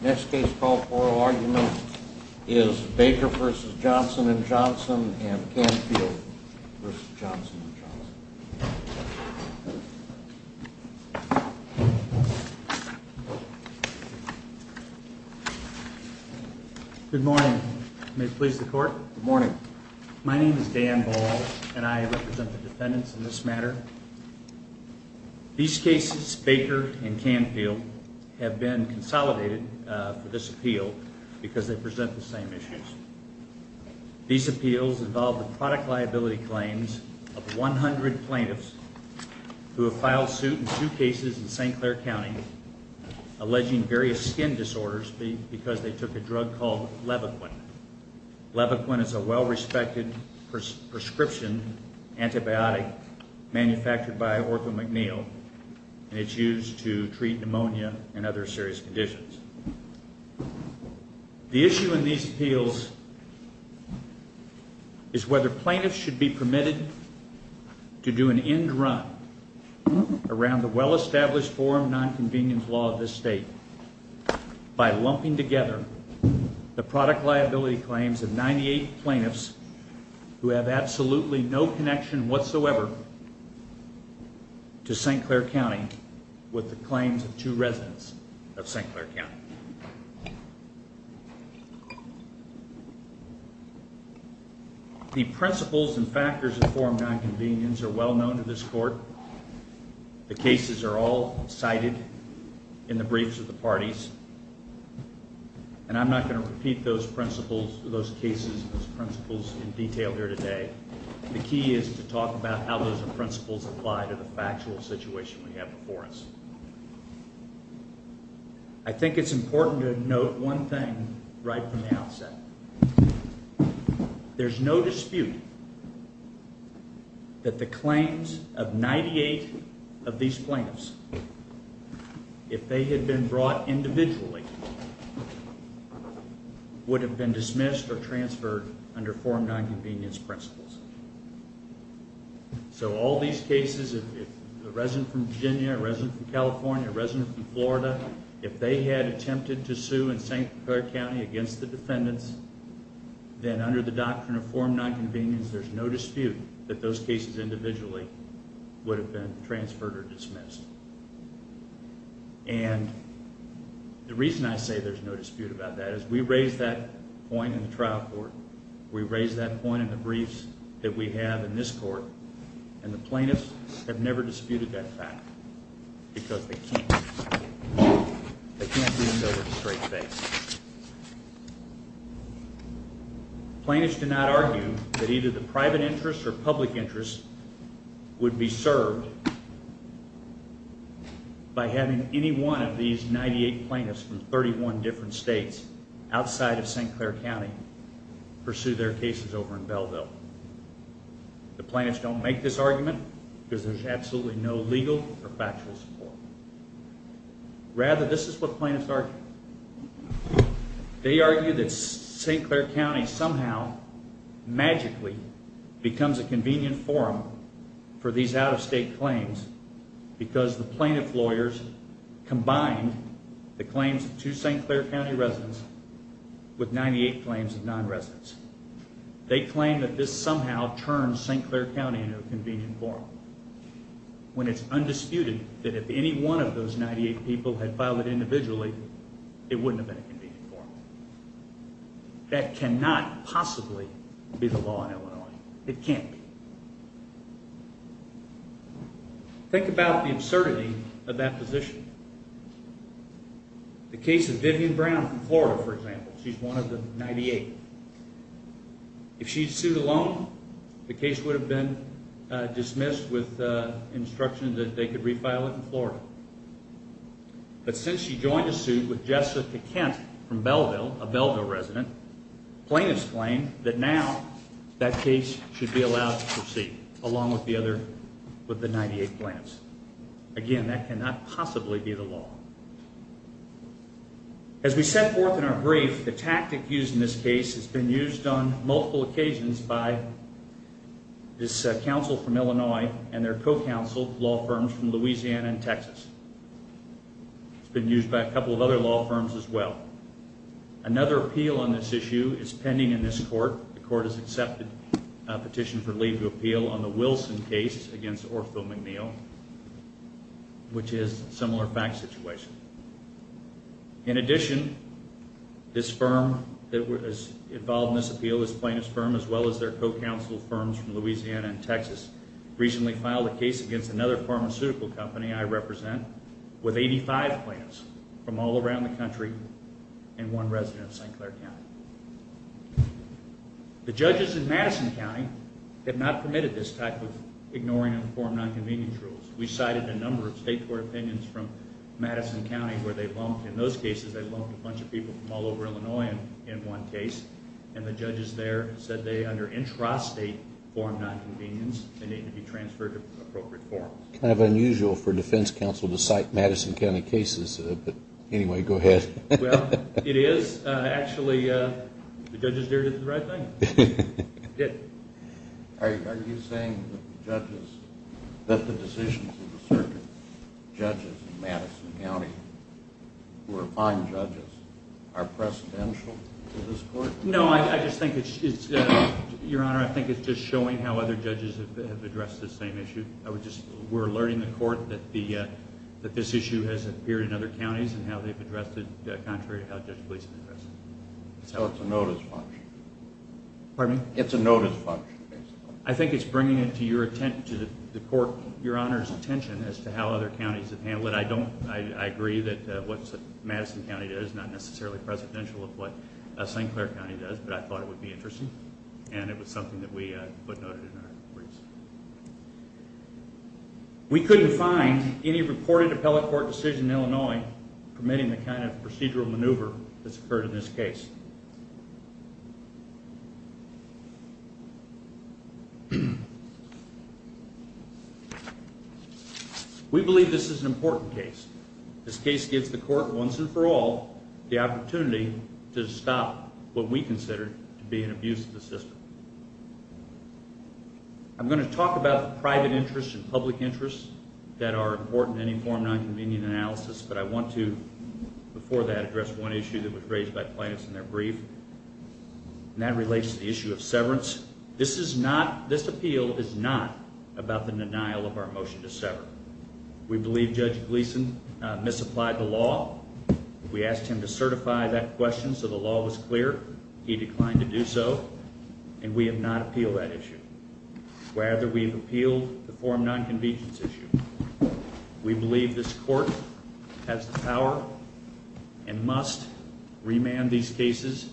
Next case called Oral Argument is Baker v. Johnson and Johnson and Canfield v. Johnson and Johnson Good morning. May it please the court? Good morning. My name is Dan Ball and I represent the defendants in this matter. These cases, Baker and Canfield, have been consolidated for this appeal because they present the same issues. These appeals involve the product liability claims of 100 plaintiffs who have filed suit in two cases in St. Clair County alleging various skin disorders because they took a drug called Levaquin. Levaquin is a well-respected prescription antibiotic manufactured by OrthoMcNeil and it's used to treat pneumonia and other serious conditions. The issue in these appeals is whether plaintiffs should be permitted to do an end run around the well-established form of nonconvenience law of this state by lumping together the product liability claims of 98 plaintiffs who have absolutely no connection whatsoever to St. Clair County with the claims of two residents of St. Clair County. The principles and factors that form nonconvenience are well known to this court. The cases are all cited in the briefs of the parties. And I'm not going to repeat those principles, those cases, those principles in detail here today. The key is to talk about how those principles apply to the factual situation we have before us. I think it's important to note one thing right from the outset. There's no dispute that the claims of 98 of these plaintiffs, if they had been brought individually, would have been dismissed or transferred under form nonconvenience principles. So all these cases, if a resident from Virginia, a resident from California, a resident from Florida, if they had attempted to sue in St. Clair County against the defendants, then under the doctrine of form nonconvenience, there's no dispute that those cases individually would have been transferred or dismissed. And the reason I say there's no dispute about that is we raised that point in the trial court. We raised that point in the briefs that we have in this court. And the plaintiffs have never disputed that fact because they can't. They can't do it over the straight face. Plaintiffs do not argue that either the private interest or public interest would be served by having any one of these 98 plaintiffs from 31 different states outside of St. Clair County pursue their cases over in Belleville. The plaintiffs don't make this argument because there's absolutely no legal or factual support. Rather, this is what plaintiffs argue. They argue that St. Clair County somehow, magically, becomes a convenient forum for these out-of-state claims because the plaintiff lawyers combined the claims of two St. Clair County residents with 98 claims of non-residents. They claim that this somehow turns St. Clair County into a convenient forum when it's undisputed that if any one of those 98 people had filed it individually, it wouldn't have been a convenient forum. That cannot possibly be the law in Illinois. It can't be. Think about the absurdity of that position. The case of Vivian Brown from Florida, for example, she's one of the 98. If she'd sued alone, the case would have been dismissed with instruction that they could refile it in Florida. But since she joined the suit with Jessica Kent from Belleville, a Belleville resident, plaintiffs claim that now that case should be allowed to proceed along with the 98 plaintiffs. Again, that cannot possibly be the law. As we set forth in our brief, the tactic used in this case has been used on multiple occasions by this counsel from Illinois and their co-counsel, law firms from Louisiana and Texas. It's been used by a couple of other law firms as well. Another appeal on this issue is pending in this court. The court has accepted a petition for leave to appeal on the Wilson case against Ortho McNeil, which is a similar fact situation. In addition, this firm that was involved in this appeal, this plaintiff's firm, as well as their co-counsel firms from Louisiana and Texas, recently filed a case against another pharmaceutical company I represent with 85 plaintiffs from all around the country and one resident of St. Clair County. The judges in Madison County have not permitted this type of ignoring of form non-convenience rules. We cited a number of state court opinions from Madison County where they've lumped, in those cases they've lumped a bunch of people from all over Illinois in one case, and the judges there said they, under intrastate form non-convenience, they need to be transferred to appropriate forms. It's kind of unusual for a defense counsel to cite Madison County cases, but anyway, go ahead. Well, it is. Actually, the judges there did the right thing. Are you saying that the judges, that the decisions of certain judges in Madison County who are fine judges are precedential to this court? No, I just think it's, Your Honor, I think it's just showing how other judges have addressed this same issue. We're alerting the court that this issue has appeared in other counties and how they've addressed it contrary to how Judge Gleeson addressed it. So it's a notice function. Pardon me? It's a notice function, basically. I think it's bringing it to the court, Your Honor's attention as to how other counties have handled it. I agree that what Madison County does is not necessarily precedential of what St. Clair County does, but I thought it would be interesting and it was something that we footnoted in our briefs. We couldn't find any reported appellate court decision in Illinois permitting the kind of procedural maneuver that's occurred in this case. We believe this is an important case. This case gives the court, once and for all, the opportunity to stop what we consider to be an abuse of the system. I'm going to talk about the private interests and public interests that are important to any form of nonconvenient analysis, but I want to, before that, address one issue that was raised by plaintiffs in their brief, and that relates to the issue of severance. This appeal is not about the denial of our motion to sever. We believe Judge Gleeson misapplied the law. We asked him to certify that question so the law was clear. He declined to do so. And we have not appealed that issue. Rather, we've appealed the form nonconvenience issue. We believe this court has the power and must remand these cases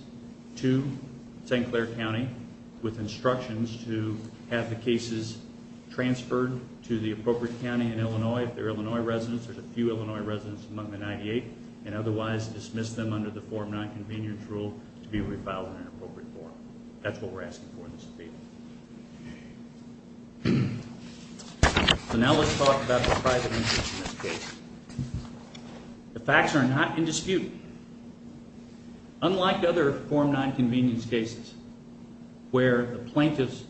to St. Clair County with instructions to have the cases transferred to the appropriate county in Illinois, if they're Illinois residents, there's a few Illinois residents among the 98, and otherwise dismiss them under the form nonconvenience rule to be refiled in an appropriate forum. That's what we're asking for in this appeal. So now let's talk about the private interests in this case. The facts are not in dispute. Unlike other form nonconvenience cases, where the plaintiffs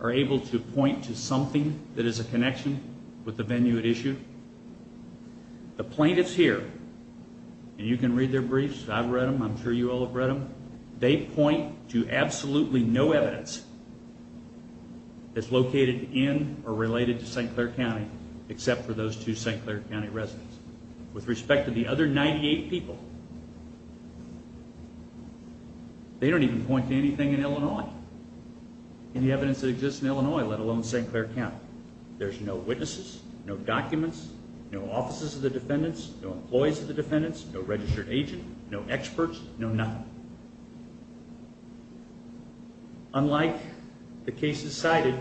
are able to point to something that is a connection with the venue at issue, the plaintiffs here, and you can read their briefs, I've read them, I'm sure you all have read them, they point to absolutely no evidence that's located in or related to St. Clair County except for those two St. Clair County residents. With respect to the other 98 people, they don't even point to anything in Illinois, any evidence that exists in Illinois, let alone St. Clair County. There's no witnesses, no documents, no offices of the defendants, no employees of the defendants, no registered agent, no experts, no nothing. Unlike the cases cited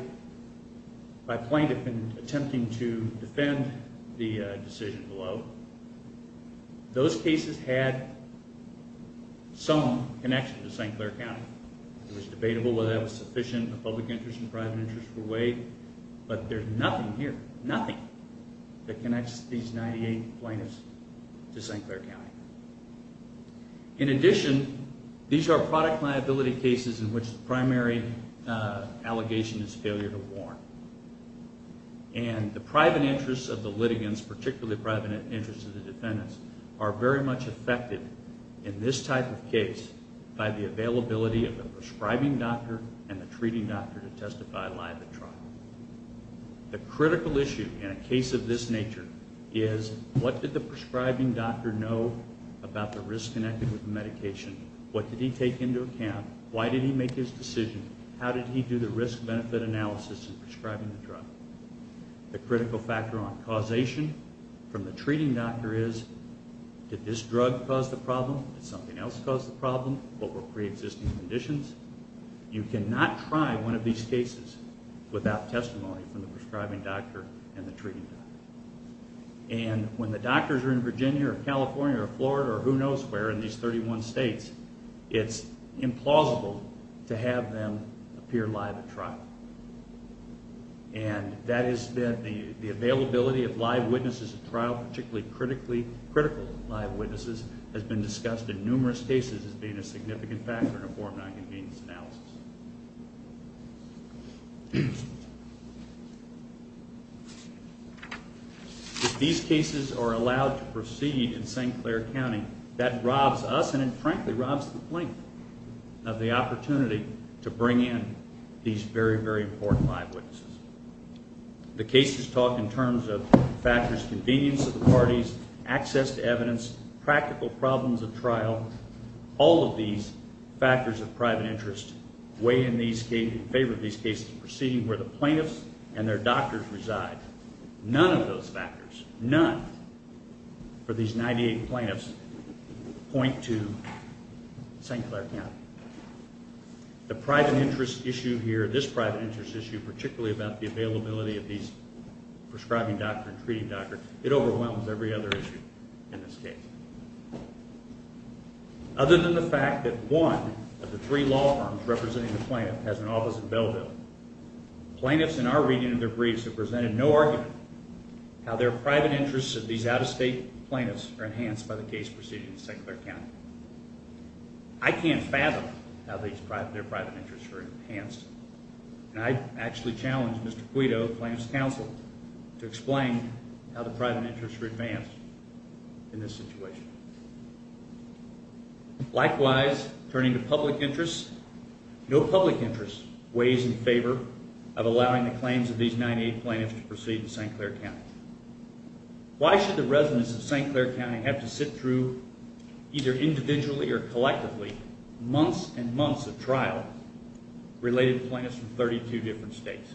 by plaintiff in attempting to defend the decision below, those cases had some connection to St. Clair County. It was debatable whether that was sufficient of public interest and private interest for Wade, but there's nothing here, nothing, that connects these 98 plaintiffs to St. Clair County. In addition, these are product liability cases in which the primary allegation is failure to warn. And the private interests of the litigants, particularly the private interests of the defendants, are very much affected in this type of case by the availability of a prescribing doctor and a treating doctor to testify live at trial. The critical issue in a case of this nature is, what did the prescribing doctor know about the risk connected with the medication? What did he take into account? Why did he make his decision? How did he do the risk-benefit analysis in prescribing the drug? The critical factor on causation from the treating doctor is, did this drug cause the problem? Did something else cause the problem? What were pre-existing conditions? You cannot try one of these cases without testimony from the prescribing doctor and the treating doctor. And when the doctors are in Virginia or California or Florida or who knows where in these 31 states, it's implausible to have them appear live at trial. And that is that the availability of live witnesses at trial, particularly critical live witnesses, has been discussed in numerous cases as being a significant factor in a form of non-convenience analysis. If these cases are allowed to proceed in St. Clair County, that robs us and frankly robs the plaintiff of the opportunity to bring in these very, very important live witnesses. The cases talk in terms of factors, convenience of the parties, access to evidence, practical problems at trial. All of these factors of private interest weigh in favor of these cases proceeding where the plaintiffs and their doctors reside. None of those factors, none, for these 98 plaintiffs point to St. Clair County. The private interest issue here, this private interest issue, particularly about the availability of these prescribing doctor and treating doctor, it overwhelms every other issue in this case. Other than the fact that one of the three law firms representing the plaintiff has an office in Belleville, plaintiffs in our reading of their briefs have presented no argument how their private interests of these out-of-state plaintiffs are enhanced by the case proceeding in St. Clair County. I can't fathom how their private interests are enhanced. And I actually challenge Mr. Guido, Plaintiff's Counsel, to explain how the private interests are enhanced in this situation. Likewise, turning to public interests, no public interest weighs in favor of allowing the claims of these 98 plaintiffs to proceed in St. Clair County. Why should the residents of St. Clair County have to sit through, either individually or collectively, months and months of trial related to plaintiffs from 32 different states?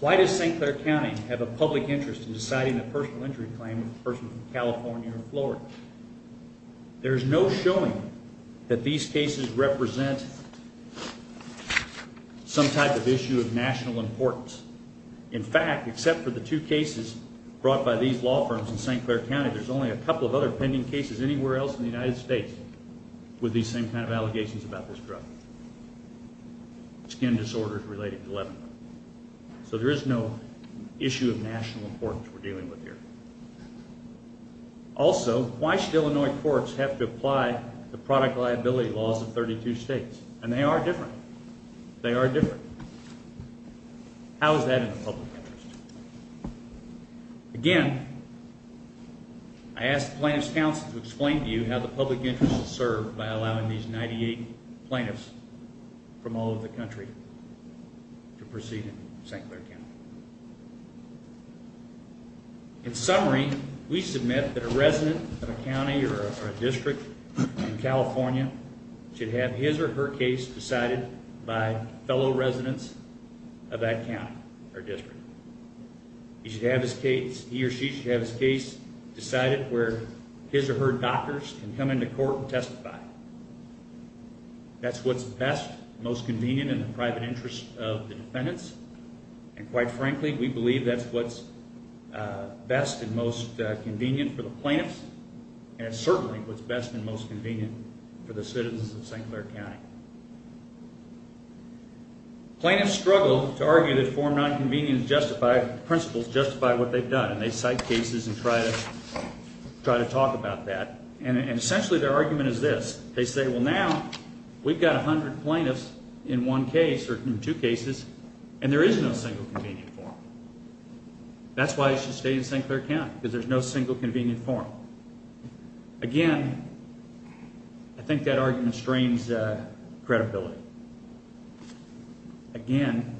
Why does St. Clair County have a public interest in deciding the personal injury claim of a person from California or Florida? There is no showing that these cases represent some type of issue of national importance. In fact, except for the two cases brought by these law firms in St. Clair County, there's only a couple of other pending cases anywhere else in the United States with these same kind of allegations about this drug. Skin disorders related to Lebanon. So there is no issue of national importance we're dealing with here. Also, why should Illinois courts have to apply the product liability laws of 32 states? And they are different. They are different. How is that in the public interest? Again, I ask Plaintiff's Counsel to explain to you how the public interest is served by allowing these 98 plaintiffs from all over the country to proceed in St. Clair County. In summary, we submit that a resident of a county or a district in California should have his or her case decided by fellow residents of that county or district. He or she should have his case decided That's what's best, most convenient in the private interest of the defendants. And quite frankly, we believe that's what's best and most convenient for the plaintiffs. And it's certainly what's best and most convenient for the citizens of St. Clair County. Plaintiffs struggle to argue that form non-convenient principles justify what they've done. And they cite cases and try to talk about that. And essentially their argument is this. They say, well now, we've got 100 plaintiffs in one case or two cases and there is no single convenient form. That's why they should stay in St. Clair County, because there's no single convenient form. Again, I think that argument strains credibility. Again,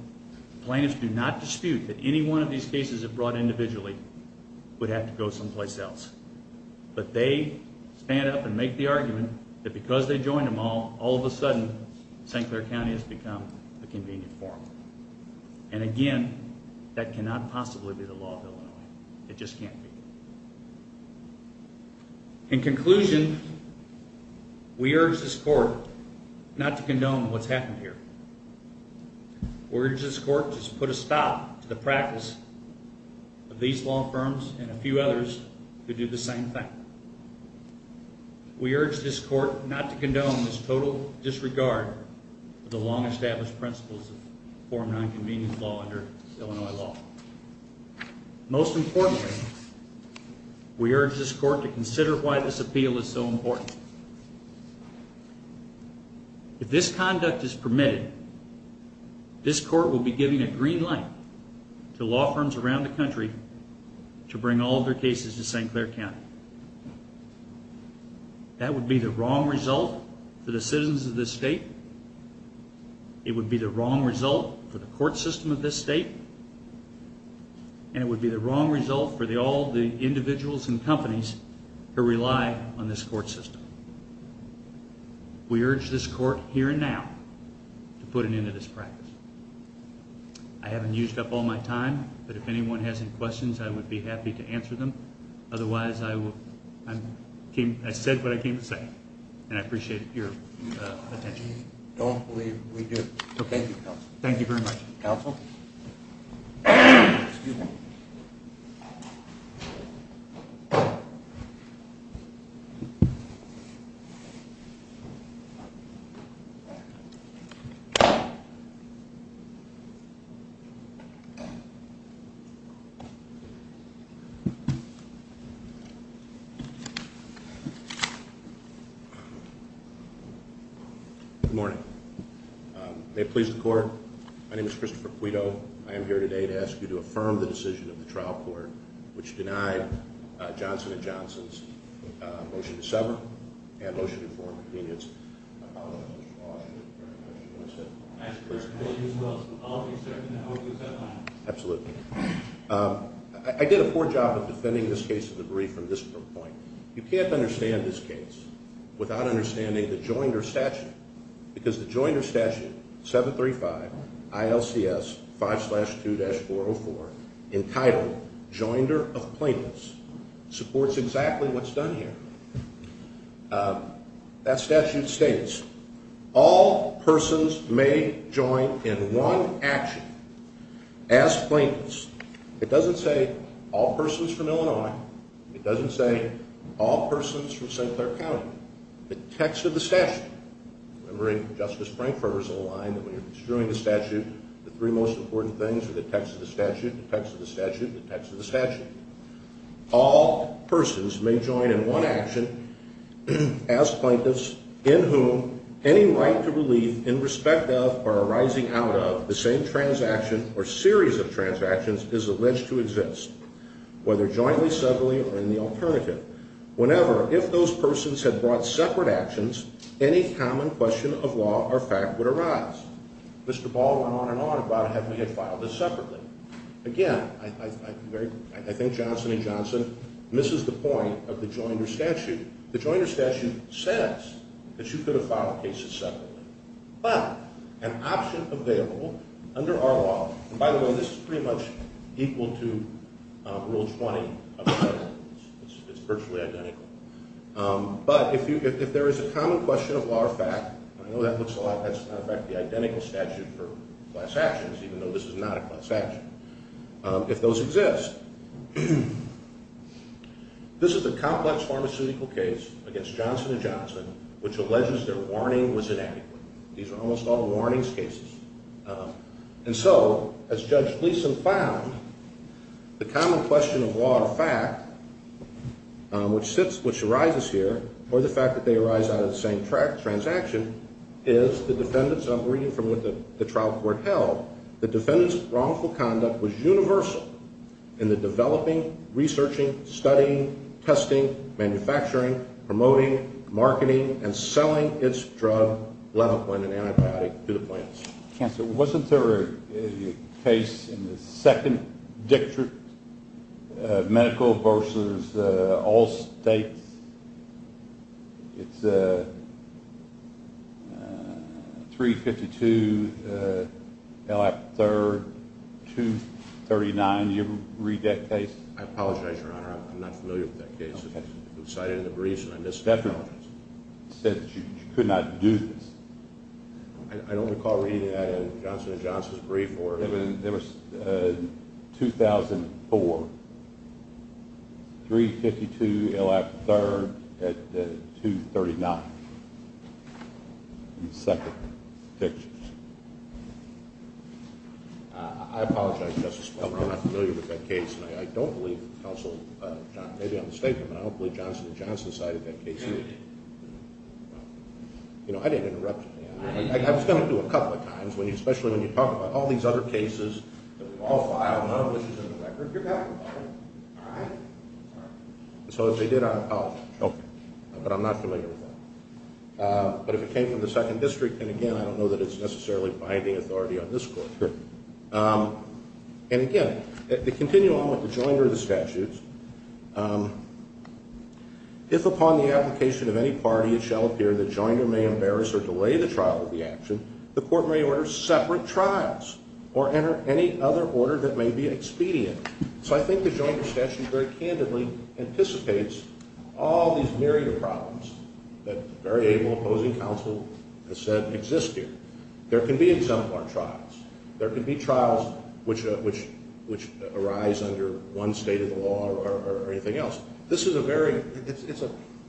plaintiffs do not dispute that any one of these cases if brought individually would have to go someplace else. Stand up and make the argument that because they joined them all, all of a sudden St. Clair County has become a convenient form. And again, that cannot possibly be the law of Illinois. It just can't be. In conclusion, we urge this court not to condone what's happened here. We urge this court to put a stop to the practice of these law firms and a few others who do the same thing. We urge this court not to condone this total disregard of the long-established principles of form nonconvenient law under Illinois law. Most importantly, we urge this court to consider why this appeal is so important. If this conduct is permitted, this court will be giving a green light to law firms around the country to bring all of their cases to St. Clair County. That would be the wrong result for the citizens of this state. It would be the wrong result for the court system of this state. And it would be the wrong result for all the individuals and companies who rely on this court system. We urge this court here and now to put an end to this practice. I haven't used up all my time, but if anyone has any questions, I would be happy to answer them. Otherwise, I said what I came to say, and I appreciate your attention. I don't believe we do. Thank you, Counsel. Thank you very much. Counsel? Good morning. May it please the court? My name is Christopher Quito. I am here today to ask you to affirm the decision of the trial court which denied Johnson & Johnson's motion to sever and motion to form convenience. I apologize for the loss. Thank you very much. I'll be certain to hold you to that line. Absolutely. I did a poor job of defending this case of the brief from this point. You can't understand this case without understanding the joinder statute. Because the joinder statute, 735 ILCS 5-2-404, entitled Joinder of Plaintiffs, supports exactly what's done here. That statute states, all persons may join in one action as plaintiffs. It doesn't say all persons from Illinois. It doesn't say all persons from St. Clair County. The text of the statute. Remembering Justice Frankfurter's old line that when you're construing the statute, the three most important things are the text of the statute, the text of the statute, the text of the statute. All persons may join in one action as plaintiffs, in whom any right to relief in respect of or arising out of the same transaction or series of transactions is alleged to exist, whether jointly, separately, or in the alternative. Whenever, if those persons had brought separate actions, any common question of law or fact would arise. Mr. Ball went on and on about having to get filed separately. Again, I think Johnson & Johnson misses the point of the Joinder statute. The Joinder statute says that you could have filed cases separately. But an option available under our law, and by the way, this is pretty much equal to Rule 20 of the Senate. It's virtually identical. But if there is a common question of law or fact, and I know that looks a lot, that's in fact the identical statute for class actions, even though this is not a class action. If those exist, this is a complex pharmaceutical case against Johnson & Johnson, which alleges their warning was inadequate. These are almost all warnings cases. And so, as Judge Gleeson found, the common question of law or fact, which arises here, or the fact that they arise out of the same transaction, is the defendant's, and I'm reading from what the trial court held, the defendant's wrongful conduct was universal in the developing, researching, studying, testing, manufacturing, promoting, marketing, and selling its drug, lenopine, and antibiotic to the plants. Counsel, wasn't there a case in the second dictate, medical versus all states? It's 352 L.A. 3rd, 239. Did you ever read that case? I apologize, Your Honor, I'm not familiar with that case. It was cited in the briefs, and I missed it. The defendant said that you could not do this. I don't recall reading that in Johnson & Johnson's brief. It was 2004. 352 L.A. 3rd, 239. In the second dictate. I apologize, Justice Palmer, I'm not familiar with that case, and I don't believe Counsel John, maybe I'm mistaken, but I don't believe Johnson & Johnson cited that case either. You know, I didn't interrupt you. I was going to do it a couple of times, especially when you talk about all these other cases that we've all filed, none of which is in the record. You're talking about it, all right? So if they did, I apologize. But I'm not familiar with that. But if it came from the second district, then again, I don't know that it's necessarily binding authority on this court. And again, to continue on with the joinder of the statutes, if upon the application of any party it shall appear the joinder may embarrass or delay the trial of the action, or enter into separate trials, or enter any other order that may be expedient. So I think the joinder statute very candidly anticipates all these myriad problems that very able opposing counsel has said exist here. There can be exemplar trials. There can be trials which arise under one state of the law or anything else. This is a very,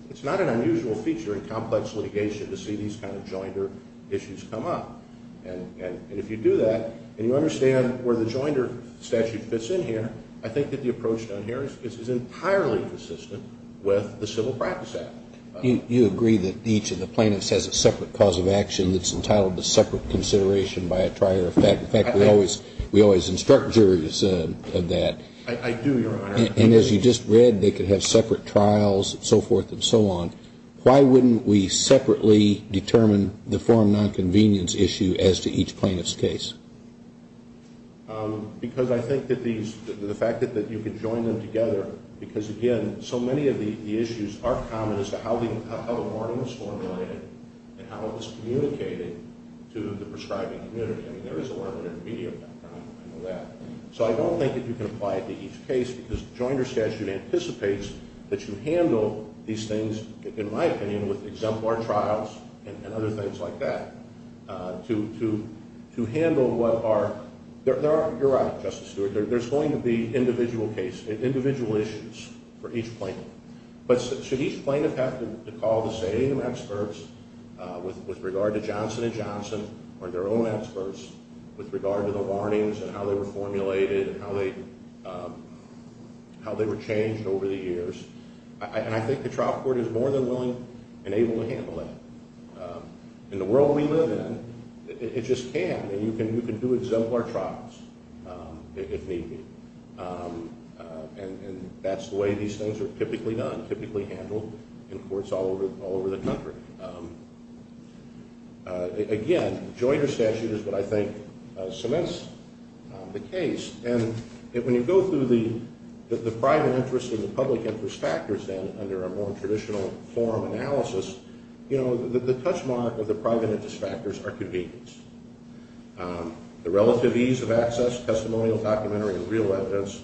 it's not an unusual feature in complex litigation to see these kind of joinder issues come up. And if you do that, and you understand where the joinder statute fits in here, I think that the approach done here is entirely consistent with the Civil Practice Act. You agree that each of the plaintiffs has a separate cause of action that's entitled to separate consideration by a trier. In fact, we always instruct juries of that. I do, Your Honor. And as you just read, they could have separate trials and so forth and so on. Why wouldn't we separately determine the foreign nonconvenience issue as to each plaintiff's case? Because I think that these, the fact that you could join them together, because again, so many of the issues are common as to how the warning was formulated and how it was communicating to the prescribing community. I mean, there is a word in the media about that. I know that. So I don't think that you can apply it to each case because the joinder statute anticipates that you handle these things, in my opinion, with exemplar trials and other things like that, to handle what are, you're right, Justice Stewart, there's going to be individual issues for each plaintiff. But should each plaintiff have to call the same experts with regard to Johnson & Johnson or their own experts with regard to the warnings and how they were formulated and how they were changed over the years? And I think the trial court is more than willing and able to handle that. In the world we live in, it just can. And you can do exemplar trials if need be. And that's the way these things are typically done, typically handled in courts all over the country. Again, joinder statute is what I think cements the case. And when you go through the private interest and the public interest factors then under a more traditional forum analysis, you know, the touch mark of the private interest factors are convenience. The relative ease of access, testimonial, documentary, and real evidence,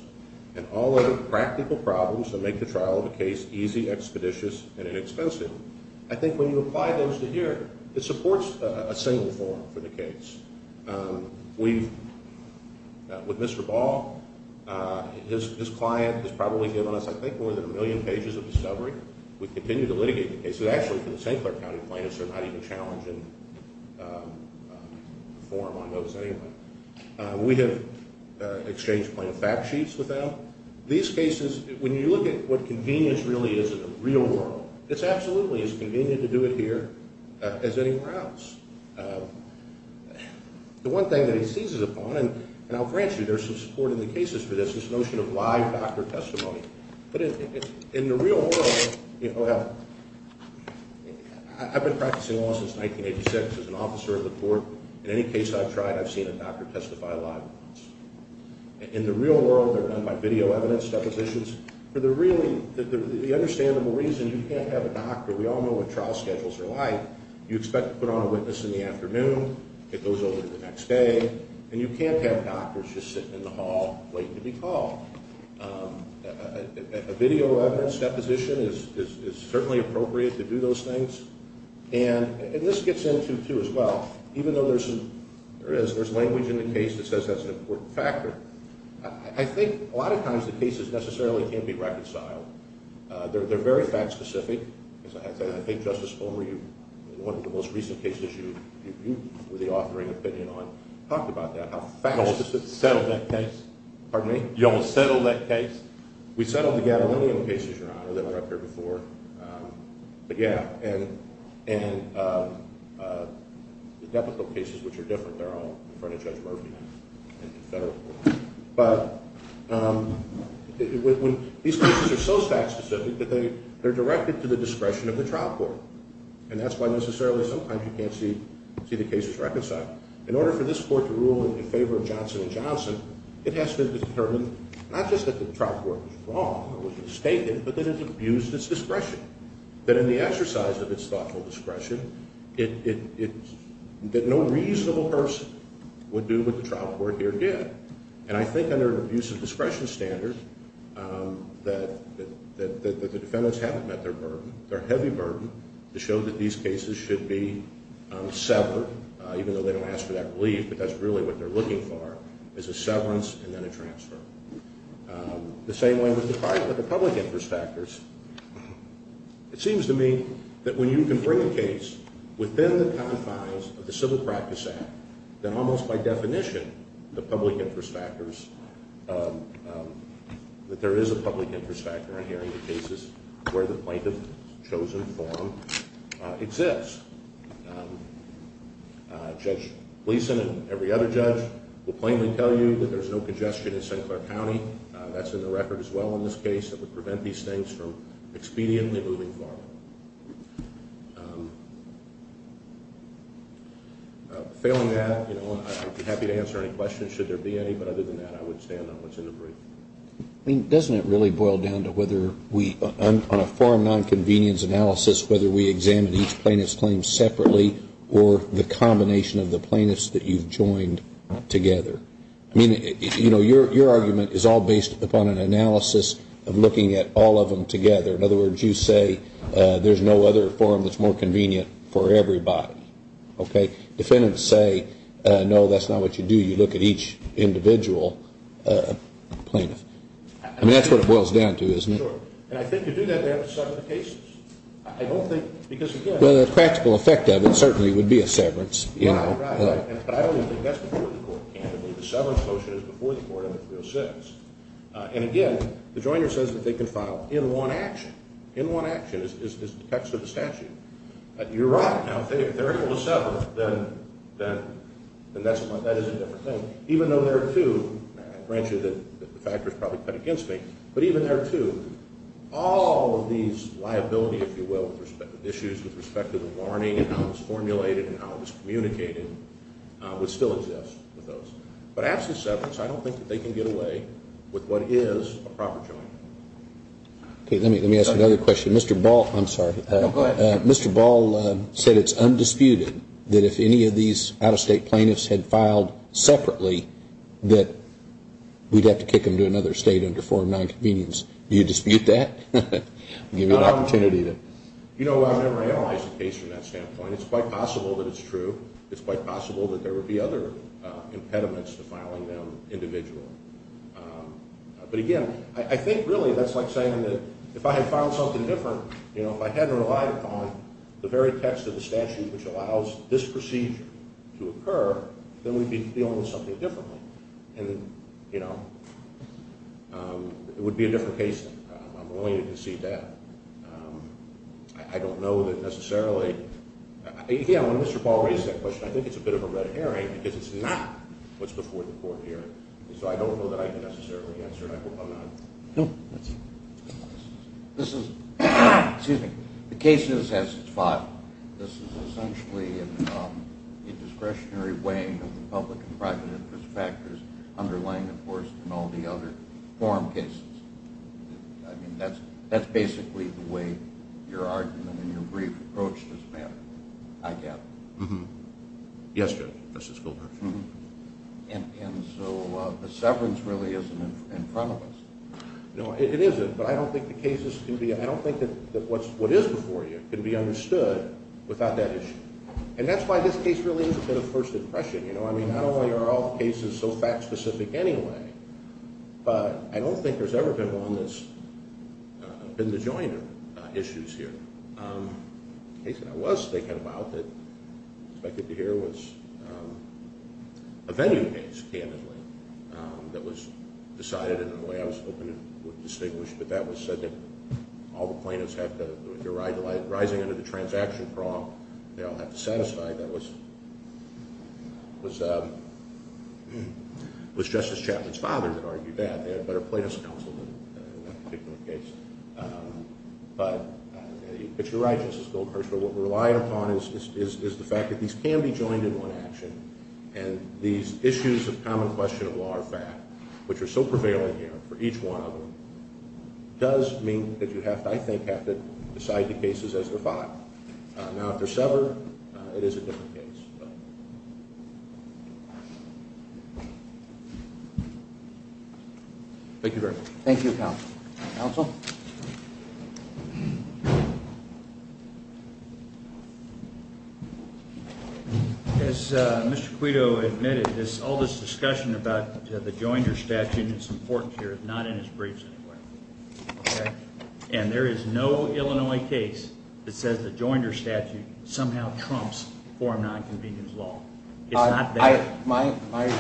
and all of the practical problems that make the trial of a case easy, expeditious, and inexpensive. I think when you apply those to here, it supports a single forum for the case. We've, with Mr. Ball, his client has probably given us, I think, more than a million pages of discovery. We continue to litigate the cases. Actually, for the St. Clair County plaintiffs, they're not even challenged in the forum on those anyway. We have exchanged plaintiff fact sheets with them. These cases, when you look at what convenience really is in the real world, it's absolutely as convenient to do it here as anywhere else. The one thing that he seizes upon, and I'll grant you there's some support in the cases for this, is this notion of live doctor testimony. But in the real world, I've been practicing law since 1986 as an officer of the court. In any case I've tried, I've seen a doctor testify live. In the real world, they're done by video evidence, depositions. For the understandable reason you can't have a doctor, we all know what trial schedules are like, you expect to put on a witness in the afternoon, it goes over to the next day, and you can't have doctors just sitting in the hall waiting to be called. A video evidence deposition is certainly appropriate to do those things. And this gets into, too, as well, even though there is language in the case that says that's an important factor, I think a lot of times the cases necessarily can be reconciled. They're very fact specific. I think, Justice Fulmer, one of the most recent cases you were the authoring opinion on talked about that, how fast it settled that case. Pardon me? You almost settled that case? We settled the gadolinium cases, Your Honor, that were up here before. But yeah, and the deputal cases, which are different, they're all in front of Judge Murphy in federal court. But these cases are so fact specific that they're directed to the discretion of the trial court. And that's why necessarily sometimes you can't see the cases reconciled. In order for this court to rule in favor of Johnson & Johnson, it has to determine not just that the trial court was wrong or was mistaken, but that it abused its discretion. That in the exercise of its thoughtful discretion, that no reasonable person would do what the trial court here did. And I think under an abusive discretion standard that the defendants haven't met their burden, their heavy burden, to show that these cases should be severed, even though they don't ask for that relief, but that's really what they're looking for, is a severance and then a transfer. The same way with the public interest factors, it seems to me that when you can bring a case within the confines of the Civil Practice Act, then almost by definition, the public interest factors, that there is a public interest factor in hearing the cases where the plaintiff's chosen form exists. Judge Gleason and every other judge will plainly tell you that there's no congestion in Sinclair County. That's in the record as well in this case that would prevent these things from expediently moving forward. Failing that, I'd be happy to answer any questions, should there be any, but other than that, I would stand on what's in the brief. I mean, doesn't it really boil down to whether we, on a forum non-convenience analysis, whether we examine each plaintiff's claim separately or the combination of the plaintiffs that you've joined together? I mean, you know, your argument is all based upon an analysis of looking at all of them together. In other words, you say there's no other forum that's more convenient for everybody, okay? Defendants say, no, that's not what you do. You look at each individual plaintiff. I mean, that's what it boils down to isn't it? Sure. And I think you do that there with several cases. I don't think, because again... Well, the practical effect of it certainly would be a severance, you know. Right, right. But I don't even think that's before the court. The severance motion is before the court under 306. And again, the joiner says that they can file in one action. In one action is the text of the statute. You're right. Now, if they're able to sever, then that is a different thing. Even though there are two, I grant you that the factors probably cut against me, but even there are two. All of these liability, if you will, issues with respect to the warning and how it was formulated and how it was communicated would still exist with those. But after severance, I don't think that they can get away with what is a proper joiner. Let me ask another question. Mr. Ball, I'm sorry. No, go ahead. Mr. Ball said it's undisputed that if any of these out-of-state plaintiffs had filed separately, that we'd have to kick them to another state under Form 9 Convenience. Do you dispute that? I'll give you an opportunity to... You know, I've never analyzed the case from that standpoint. It's quite possible that it's true. It's quite possible that there would be other impediments to filing them individually. But again, I think, really, that's like saying that if I had filed something different, if I hadn't relied upon the very text of the statute which allows this procedure to occur, then we'd be dealing with something differently. And, you know, it would be a different case. I'm willing to concede that. I don't know that necessarily... Yeah, when Mr. Ball raised that question, I think it's a bit of a red herring because it's not what's before the court here. So I don't know that I can necessarily answer it. I hope I'm not... No. This is... Excuse me. The case is as it's filed. This is essentially an indiscretionary weighing of the public and private interest factors underlying enforcement and all the other form cases. I mean, that's basically the way your argument and your brief approach this matter, I gather. Yes, Judge. Justice Goldberg. And so the severance really isn't in front of us. No, it isn't. But I don't think the cases can be... I don't think that what is before you can be understood without that issue. And that's why this case really is a bit of first impression. You know, I mean, not only are all cases so fact-specific anyway, but I don't think there's ever been one that's been the joint issues here. The case that I was thinking about that I expected to hear was a venue case, candidly, that was decided in a way I was hoping it would distinguish, but that was said that all the plaintiffs have to... if you're rising under the transaction prompt, they all have to set aside. That was... was... was Justice Chapman's father that argued that. They had a better plaintiff's counsel in that particular case. But... but you're right, Justice Goldkirchner, what we're relying upon is the fact that these can be joined in one action, and these issues of common question of law or fact, which are so prevailing here for each one of them, does mean that you have to, I think, have to decide the cases as they're fought. Now, if they're severed, it is a different case. Thank you very much. Thank you, Counsel. Counsel? As Mr. Quito admitted, all this discussion about the Joinders statute is important here, not in his briefs anyway. Okay? And there is no Illinois case that says the Joinders statute somehow trumps foreign non-convenience law. It's not there. My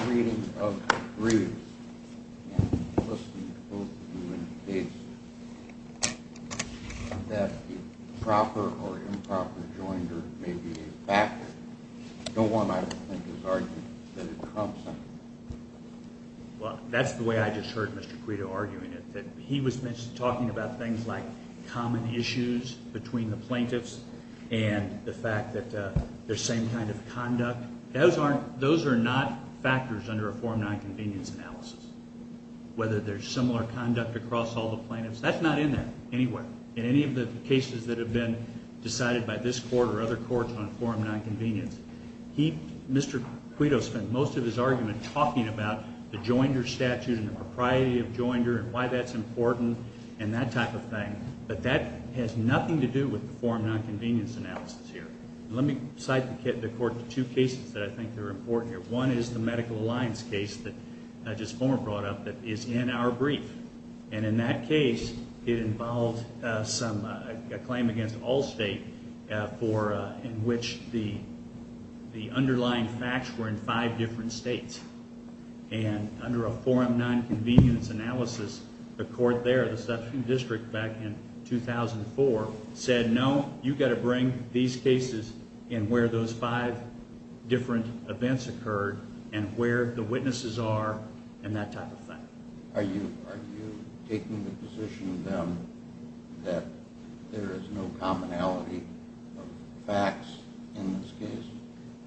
reading of... in your briefs, and listening to both of you in the case, that the proper or improper Joinders may be a factor. No one, I think, is arguing that it trumps them. Well, that's the way I just heard Mr. Quito arguing it, that he was talking about things like common issues between the plaintiffs and the fact that there's same kind of conduct. Those aren't... those are not factors under a form of foreign non-convenience analysis. Whether there's similar conduct across all the plaintiffs, that's not in there, anywhere, in any of the cases that have been decided by this court or other courts on foreign non-convenience. He, Mr. Quito, spent most of his argument talking about the Joinders statute and the propriety of Joinders and why that's important and that type of thing, but that has nothing to do with the foreign non-convenience analysis here. Let me cite the court to two cases that I think are important here. One is the Medical Alliance case that just former brought up that is in our brief and in that case, it involved some... a claim against Allstate for... in which the... the underlying facts were in five different states and under a foreign non-convenience analysis, the court there, the substantive district back in 2004, said, no, you've got to bring these cases and where those five different events occurred and where the witnesses are and that type of thing. Are you... are you taking the position that there is no commonality of facts in this case?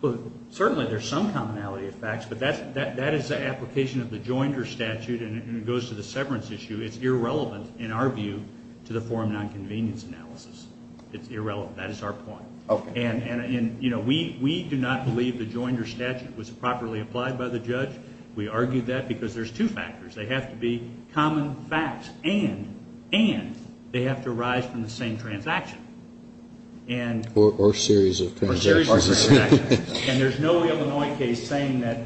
Well, certainly there's some commonality of facts, but that is the application of the Joinders statute and it goes to the severance issue. It's irrelevant, in our view, to the foreign non-convenience analysis. It's irrelevant. That is our point. Okay. And, you know, we do not believe the Joinders statute was properly applied by the judge. We argue that because there's two factors. They have to be common facts and, and, they have to arise from the same transaction. And... Or series of transactions. Or series of transactions. And there's no Illinois case saying that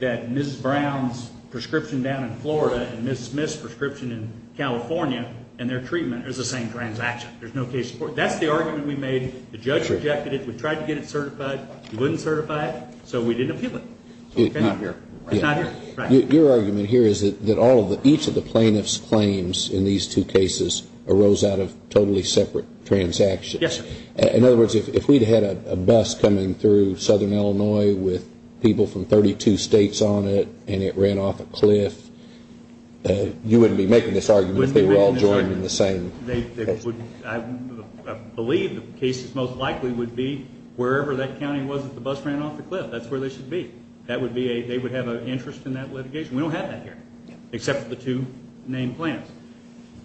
that Mrs. Brown's prescription down in Florida and Mrs. Smith's prescription in California and their treatment is the same transaction. There's no case... That's the argument we made. The judge rejected it. We tried to get it certified. He wouldn't certify it, so we didn't appeal it. Not here. Not here. Your argument here is that all of the... Each of the plaintiff's claims in these two cases arose out of totally separate transactions. Yes, sir. In other words, if we'd had a bus coming through southern Illinois with people from 32 states on it and it ran off a cliff, you wouldn't be making this argument if they were all joined in the same place. They wouldn't... I believe the cases most likely would be wherever that county was that the bus ran off the cliff. That's where they should be. That would be a... They would have an interest in that litigation. We don't have that here except for the two named plaintiffs.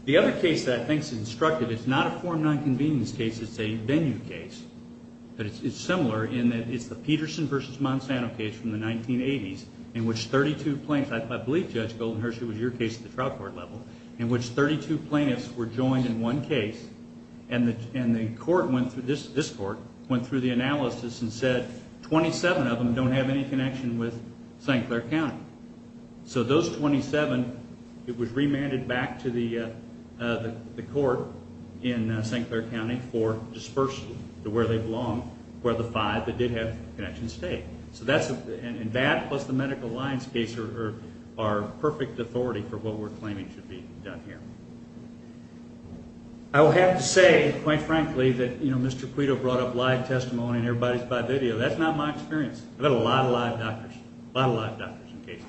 The other case that I think is instructive is not a form nonconvenience case. It's a venue case. But it's similar in that it's the Peterson v. Monsanto case from the 1980s in which 32 plaintiffs... I believe, Judge Goldenhersey, it was your case at the trial court level in which 32 plaintiffs were joined in one case and the court went through... This court went through the analysis and said 27 of them don't have any connection with St. Clair County. So those 27, it was remanded back to the court in St. Clair County for dispersal to where they belong where the five that did have connections stayed. And that plus the Medical Alliance case are perfect authority for what we're claiming should be done here. I will have to say, quite frankly, that Mr. Quito brought up live testimony and everybody's by video. That's not my experience. I've had a lot of live doctors. A lot of live doctors in cases.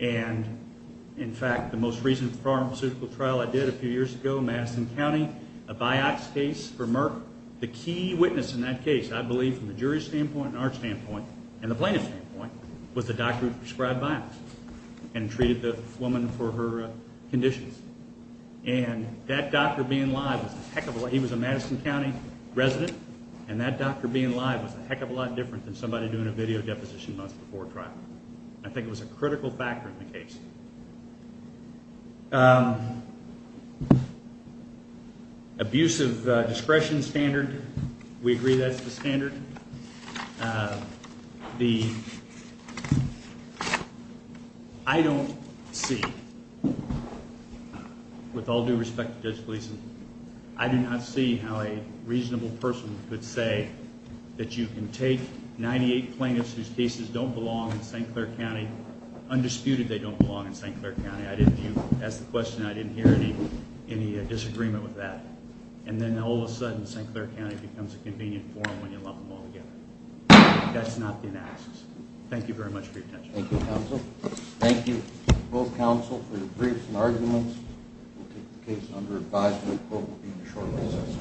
And, in fact, the most recent pharmaceutical trial I did a few years ago in Madison County, a Vioxx case for Merck. The key witness in that case, I believe, from the jury's standpoint and our standpoint and the plaintiff's standpoint, was the doctor who prescribed Vioxx and treated the woman for her conditions. And that doctor being live was a heck of a lot... He was a Madison County resident and that doctor being live was a heck of a lot different than somebody doing a video deposition months before a trial. I think it was a critical factor in the case. Abusive discretion standard. We agree that's the standard. I don't see, with all due respect to Judge Gleeson, I do not see how a reasonable person could say that you can take 98 plaintiffs whose cases don't belong in St. Clair County, undisputed they don't belong in St. Clair County, I didn't hear, you asked the question and I didn't hear any disagreement with that, and then all of a sudden St. Clair County becomes a convenient forum when you lump them all together. That's not the analysis. Thank you very much for your attention. Thank you, counsel. Thank you, both counsel, for your briefs and arguments. We'll take the case under advisement. The quote will be in the short list.